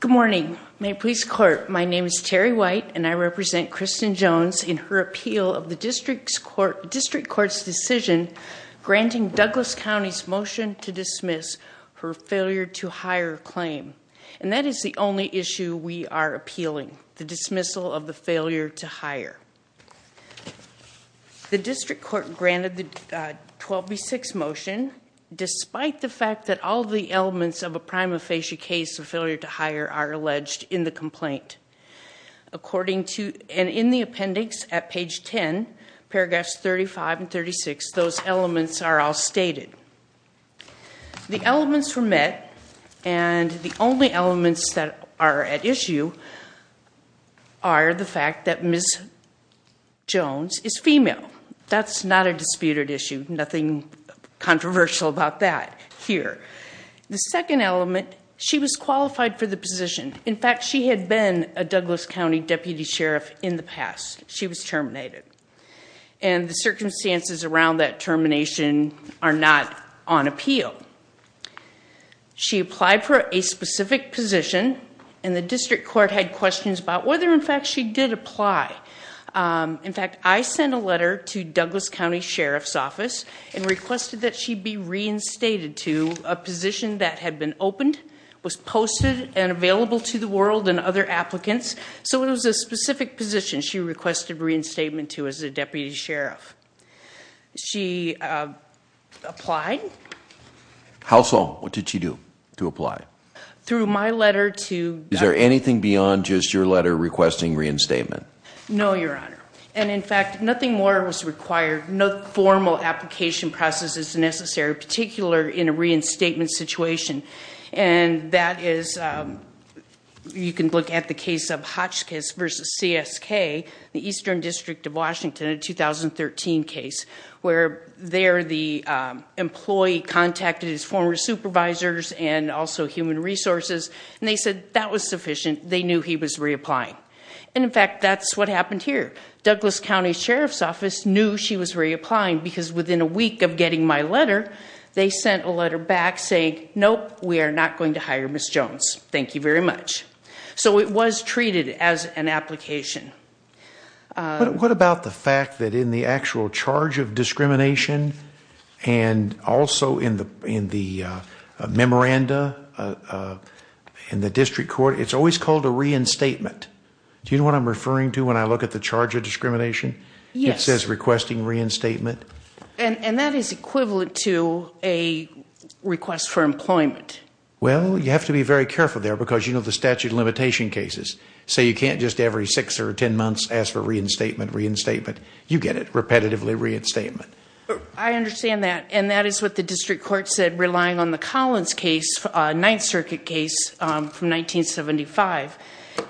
Good morning, Mayor Police Court. My name is Terry White and I represent Kristen Jones in her appeal of the District Court's decision granting Douglas County's motion to dismiss her failure to hire claim. And that is the only issue we are appealing, the dismissal of the failure to hire. The District Court granted the 12B6 motion despite the fact that all the elements of a prima facie case of failure to hire are alleged in the complaint. According to, and in the appendix at page 10, paragraphs 35 and 36, those elements are all stated. The elements were met and the only elements that are at issue are the fact that Ms. Jones is female. That's not a disputed issue, nothing controversial about that here. The second element, she was qualified for the position. In fact, she had been a Douglas County Deputy Sheriff in the past. She was terminated. And the circumstances around that termination are not on appeal. She applied for a specific position and the District Court had questions about whether in fact she did apply. In fact, I sent a letter to Douglas County Sheriff's Office and requested that she be reinstated to a position that had been opened, was posted and available to the world and other applicants. So it was a specific position she requested reinstatement to as a Deputy Sheriff. She applied. How so? What did she do to apply? Through my letter to... Is there anything beyond just your letter requesting reinstatement? No, Your Honor. And in fact, nothing more was required. No formal application process is necessary, particularly in a reinstatement situation. And that is... You can look at the case of Hotchkiss v. CSK, the Eastern District of Washington, a 2013 case, where there the employee contacted his former supervisors and also human resources. And they said that was sufficient. They knew he was reapplying. And in fact, that's what happened here. Douglas County Sheriff's Office knew she was reapplying because within a week of getting my letter, they sent a letter back saying, nope, we are not going to hire Ms. Jones. Thank you very much. So it was treated as an application. What about the fact that in the actual charge of discrimination and also in the memoranda in the District Court, it's always called a reinstatement? Do you know what I'm referring to when I look at the charge of discrimination? Yes. It says requesting reinstatement. And that is equivalent to a request for employment. Well, you have to be very careful there because you know the statute of limitation cases. So you can't just every six or ten months ask for reinstatement, reinstatement. You get it, repetitively reinstatement. I understand that. And that is what the District Court said, relying on the Collins case, Ninth Circuit case from 1975.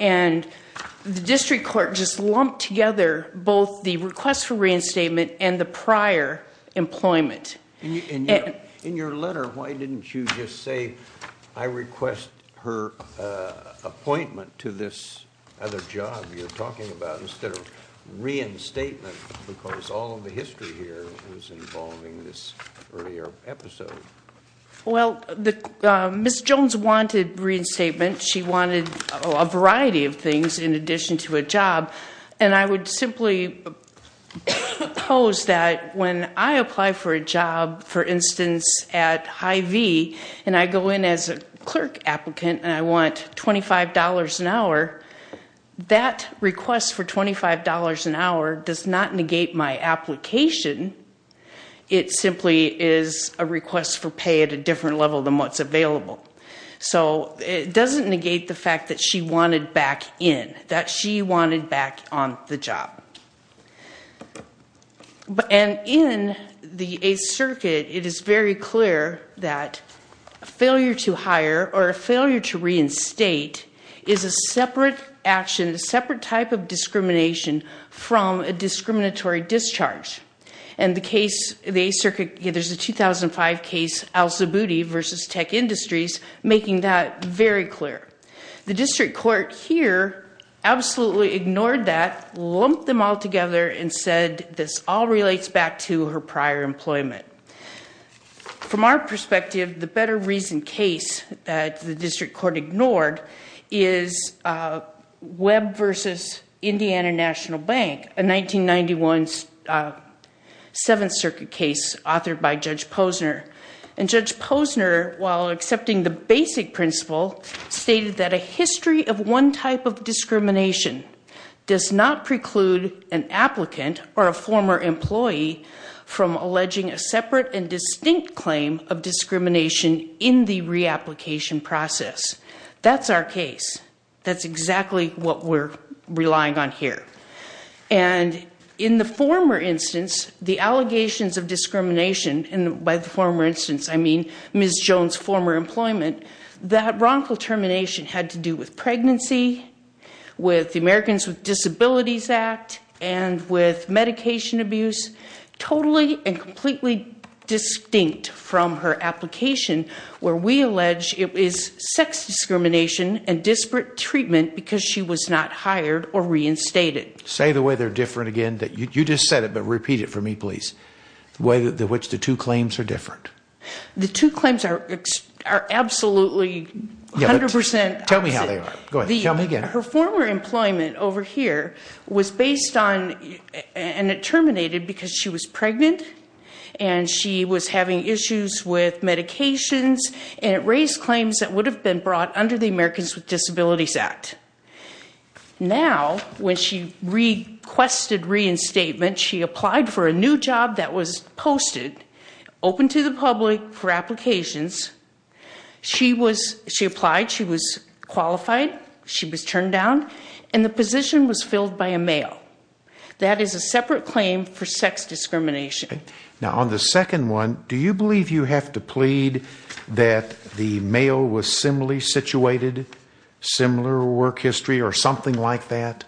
And the District Court just lumped together both the request for reinstatement and the prior employment. In your letter, why didn't you just say, I request her appointment to this other job you're talking about instead of reinstatement because all of the history here was involving this earlier episode? Well, Ms. Jones wanted reinstatement. She wanted a variety of things in addition to a job. And I would simply pose that when I apply for a job, for instance, at Hy-Vee and I go in as a clerk applicant and I want $25 an hour, that request for $25 an hour does not negate my application. It simply is a request for pay at a different level than what's available. So it doesn't negate the fact that she wanted back in, that she wanted back on the job. And in the Eighth Circuit, it is very clear that a failure to hire or a failure to reinstate is a separate action, a separate type of discrimination from a discriminatory discharge. And the case, the Eighth Circuit, there's a 2005 case, Al-Zaboudi v. Tech Industries, making that very clear. The district court here absolutely ignored that, lumped them all together, and said this all relates back to her prior employment. From our perspective, the better reasoned case that the district court ignored is Webb v. Indiana National Bank, a 1991 Seventh Circuit case authored by Judge Posner. And Judge Posner, while accepting the basic principle, stated that a history of one type of discrimination does not preclude an applicant or a former employee from alleging a separate and distinct claim of discrimination in the reapplication process. That's our case. That's exactly what we're relying on here. And in the former instance, the allegations of discrimination, and by the former instance I mean Ms. Jones' former employment, that wrongful termination had to do with pregnancy, with the Americans with Disabilities Act, and with medication abuse. Totally and completely distinct from her application, where we allege it is sex discrimination and disparate treatment because she was not hired or reinstated. Say the way they're different again. You just said it, but repeat it for me, please. The way in which the two claims are different. The two claims are absolutely 100% opposite. Tell me how they are. Go ahead. Tell me again. Her former employment over here was based on, and it terminated because she was pregnant, and she was having issues with medications, and it raised claims that would have been brought under the Americans with Disabilities Act. Now, when she requested reinstatement, she applied for a new job that was posted, open to the public for applications. She applied, she was qualified, she was turned down, and the position was filled by a male. That is a separate claim for sex discrimination. Now, on the second one, do you believe you have to plead that the male was similarly situated, similar work history, or something like that?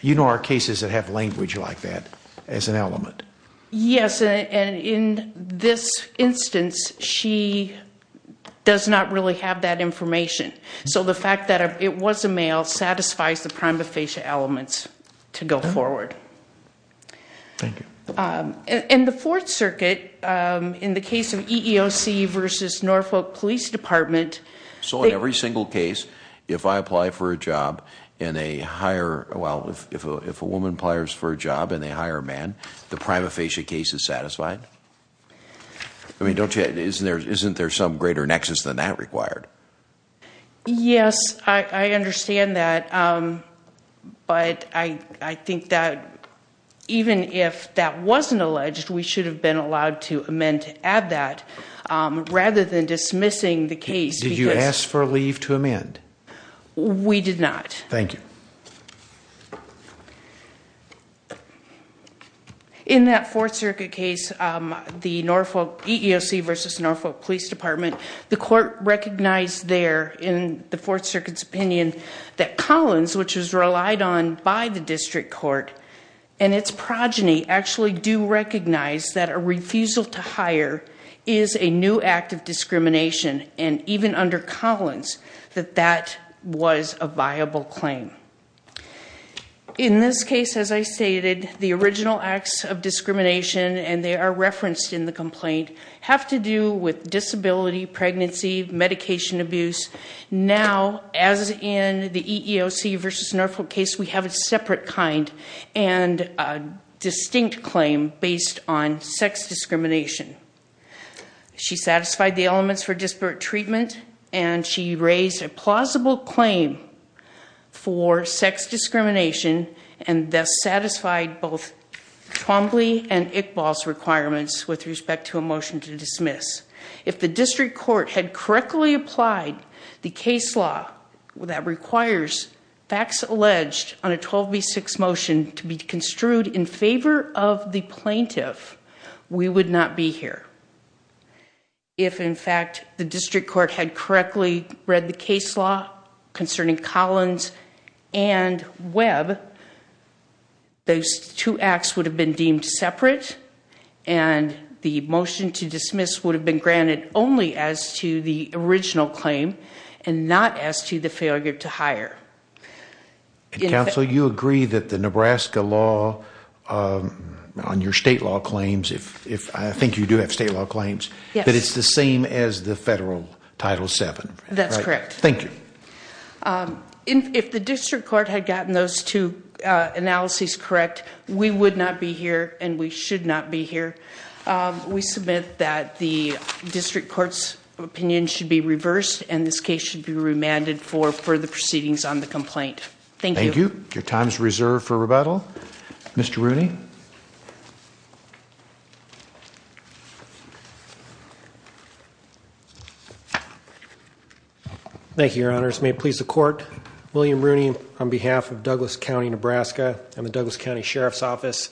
You know our cases that have language like that as an element. Yes, and in this instance, she does not really have that information. So the fact that it was a male satisfies the prima facie elements to go forward. Thank you. In the Fourth Circuit, in the case of EEOC versus Norfolk Police Department. So in every single case, if I apply for a job and they hire, well, if a woman applies for a job and they hire a man, the prima facie case is satisfied? I mean, don't you, isn't there some greater nexus than that required? Yes, I understand that. But I think that even if that wasn't alleged, we should have been allowed to amend to add that rather than dismissing the case. Did you ask for a leave to amend? We did not. Thank you. In that Fourth Circuit case, the Norfolk EEOC versus Norfolk Police Department, the court recognized there in the Fourth Circuit's opinion that Collins, which was relied on by the district court, and its progeny actually do recognize that a refusal to hire is a new act of discrimination. And even under Collins, that that was a viable claim. In this case, as I stated, the original acts of discrimination, and they are referenced in the complaint, have to do with disability, pregnancy, medication abuse. Now, as in the EEOC versus Norfolk case, we have a separate kind and a distinct claim based on sex discrimination. She satisfied the elements for disparate treatment, and she raised a plausible claim for sex discrimination and thus satisfied both Twombly and Iqbal's requirements with respect to a motion to dismiss. If the district court had correctly applied the case law that requires facts alleged on a 12B6 motion to be construed in favor of the plaintiff, we would not be here. If, in fact, the district court had correctly read the case law concerning Collins and Webb, those two acts would have been deemed separate, and the motion to dismiss would have been granted only as to the original claim and not as to the failure to hire. Counsel, you agree that the Nebraska law on your state law claims, if I think you do have state law claims, that it's the same as the federal Title VII. That's correct. Thank you. If the district court had gotten those two analyses correct, we would not be here, and we should not be here. We submit that the district court's opinion should be reversed, and this case should be remanded for further proceedings on the complaint. Thank you. Thank you. Your time is reserved for rebuttal. Mr. Rooney. Thank you, Your Honors. May it please the Court, William Rooney on behalf of Douglas County, Nebraska and the Douglas County Sheriff's Office.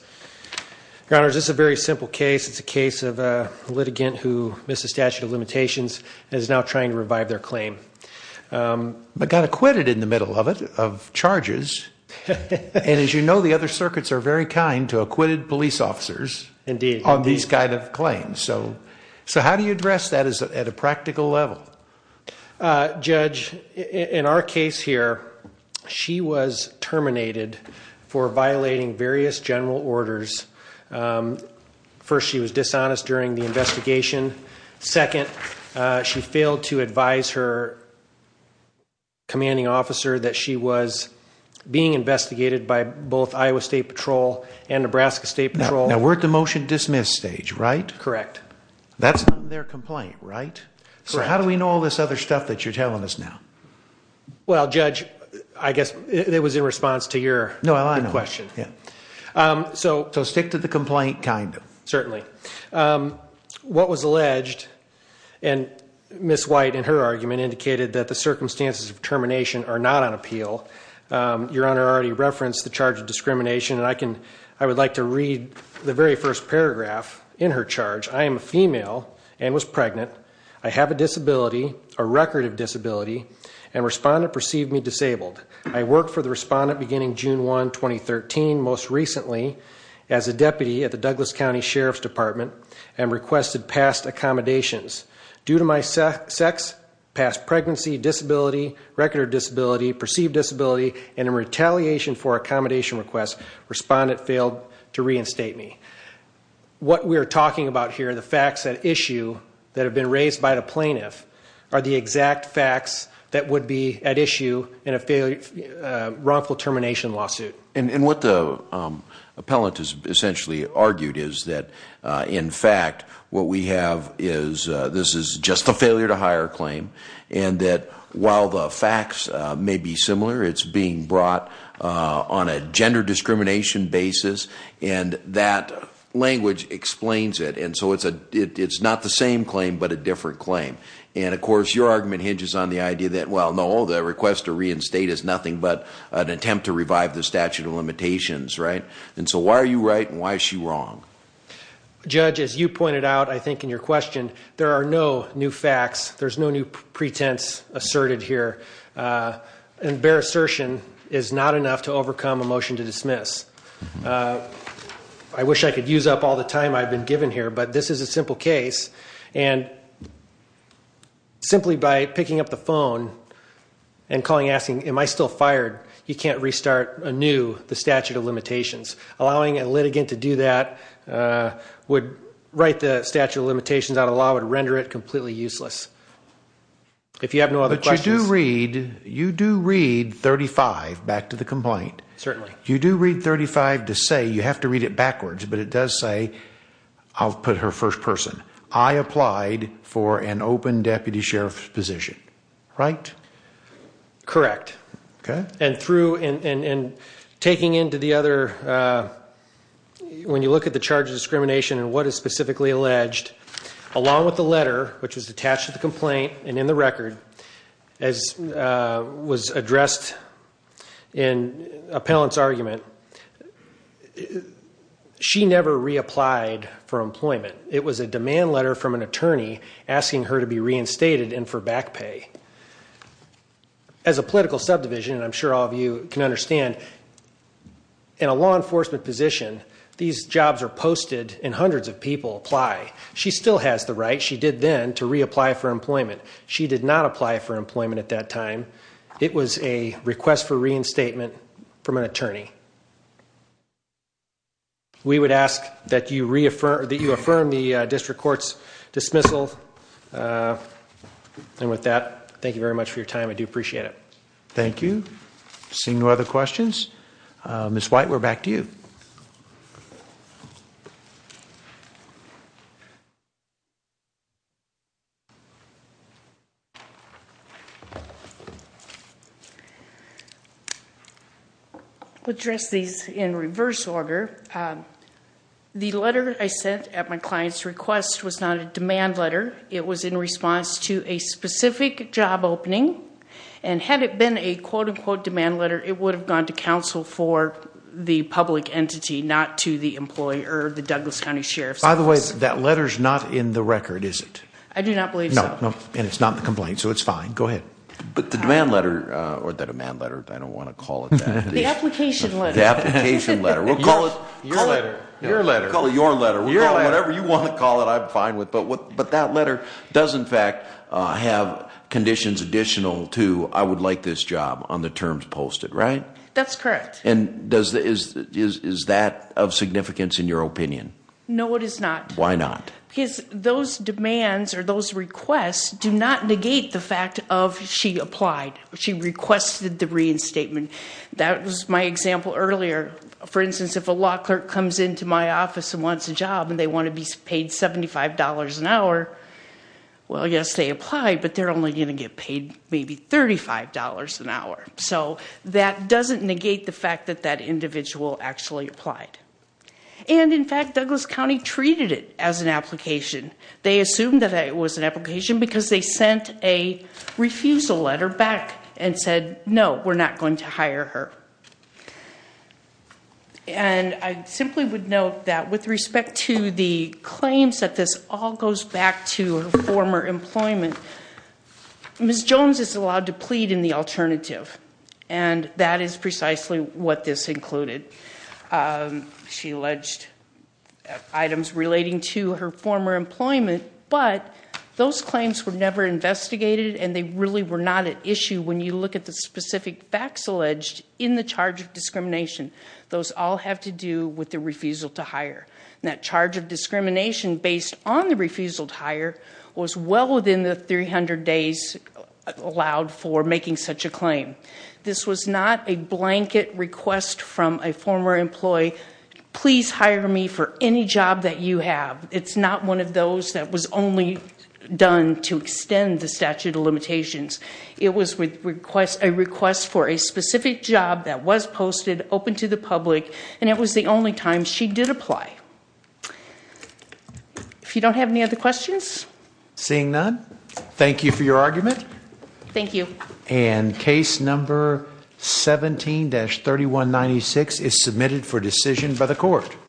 Your Honors, this is a very simple case. It's a case of a litigant who missed the statute of limitations and is now trying to revive their claim. But got acquitted in the middle of it, of charges. And as you know, the other circuits are very kind to acquitted police officers on these kind of claims. So how do you address that at a practical level? Judge, in our case here, she was terminated for violating various general orders. First, she was dishonest during the investigation. Second, she failed to advise her commanding officer that she was being investigated by both Iowa State Patrol and Nebraska State Patrol. Now, we're at the motion-dismiss stage, right? Correct. That's on their complaint, right? Correct. So how do we know all this other stuff that you're telling us now? Well, Judge, I guess it was in response to your question. No, I know. So stick to the complaint, kind of. Certainly. What was alleged, and Ms. White in her argument indicated that the circumstances of termination are not on appeal. Your Honor already referenced the charge of discrimination, and I would like to read the very first paragraph in her charge. I am a female and was pregnant. I have a disability, a record of disability, and respondent perceived me disabled. I worked for the respondent beginning June 1, 2013, most recently as a deputy at the Douglas County Sheriff's Department and requested past accommodations. Due to my sex, past pregnancy, disability, record of disability, perceived disability, and in retaliation for accommodation requests, respondent failed to reinstate me. What we are talking about here, the facts at issue that have been raised by the plaintiff, are the exact facts that would be at issue in a wrongful termination lawsuit. And what the appellant has essentially argued is that, in fact, what we have is this is just a failure to hire claim, and that while the facts may be similar, it's being brought on a gender discrimination basis, and that language explains it. And so it's not the same claim, but a different claim. And, of course, your argument hinges on the idea that, well, no, the request to reinstate is nothing but an attempt to revive the statute of limitations, right? And so why are you right, and why is she wrong? Judge, as you pointed out, I think, in your question, there are no new facts. There's no new pretense asserted here. And bare assertion is not enough to overcome a motion to dismiss. I wish I could use up all the time I've been given here, but this is a simple case. And simply by picking up the phone and calling, asking, am I still fired, you can't restart anew the statute of limitations. Allowing a litigant to do that would write the statute of limitations out of law, would render it completely useless. If you have no other questions. But you do read 35 back to the complaint. Certainly. You do read 35 to say you have to read it backwards, but it does say I'll put her first person. I applied for an open deputy sheriff's position, right? Correct. Okay. And through and taking into the other, when you look at the charge of discrimination and what is specifically alleged, along with the letter, which was attached to the complaint and in the record, as was addressed in appellant's argument, she never reapplied for employment. It was a demand letter from an attorney asking her to be reinstated and for back pay. As a political subdivision, and I'm sure all of you can understand in a law enforcement position, these jobs are posted and hundreds of people apply. She still has the right. She did then to reapply for employment. She did not apply for employment at that time. We would ask that you reaffirm that you affirm the district court's dismissal. And with that, thank you very much for your time. I do appreciate it. Thank you. Seeing no other questions. Ms. White, we're back to you. I'll address these in reverse order. The letter I sent at my client's request was not a demand letter. It was in response to a specific job opening. And had it been a, quote, unquote, demand letter, it would have gone to counsel for the public entity, not to the employee or the Douglas County Sheriff's Office. By the way, that letter's not in the record, is it? I do not believe so. No, and it's not the complaint, so it's fine. Go ahead. But the demand letter, or the demand letter, I don't want to call it that. The application letter. The application letter. We'll call it your letter. We'll call it your letter. Whatever you want to call it, I'm fine with. But that letter does, in fact, have conditions additional to I would like this job on the terms posted, right? That's correct. And is that of significance in your opinion? No, it is not. Why not? Because those demands or those requests do not negate the fact of she applied, she requested the reinstatement. That was my example earlier. For instance, if a law clerk comes into my office and wants a job and they want to be paid $75 an hour, well, yes, they apply, but they're only going to get paid maybe $35 an hour. So that doesn't negate the fact that that individual actually applied. And, in fact, Douglas County treated it as an application. They assumed that it was an application because they sent a refusal letter back and said, no, we're not going to hire her. And I simply would note that with respect to the claims that this all goes back to her former employment, Ms. Jones is allowed to plead in the alternative, and that is precisely what this included. She alleged items relating to her former employment, but those claims were never investigated and they really were not at issue when you look at the specific facts alleged in the charge of discrimination. Those all have to do with the refusal to hire. And that charge of discrimination based on the refusal to hire was well within the 300 days allowed for making such a claim. This was not a blanket request from a former employee, please hire me for any job that you have. It's not one of those that was only done to extend the statute of limitations. It was a request for a specific job that was posted open to the public, and it was the only time she did apply. If you don't have any other questions? Seeing none, thank you for your argument. Thank you. And case number 17-3196 is submitted for decision by the court.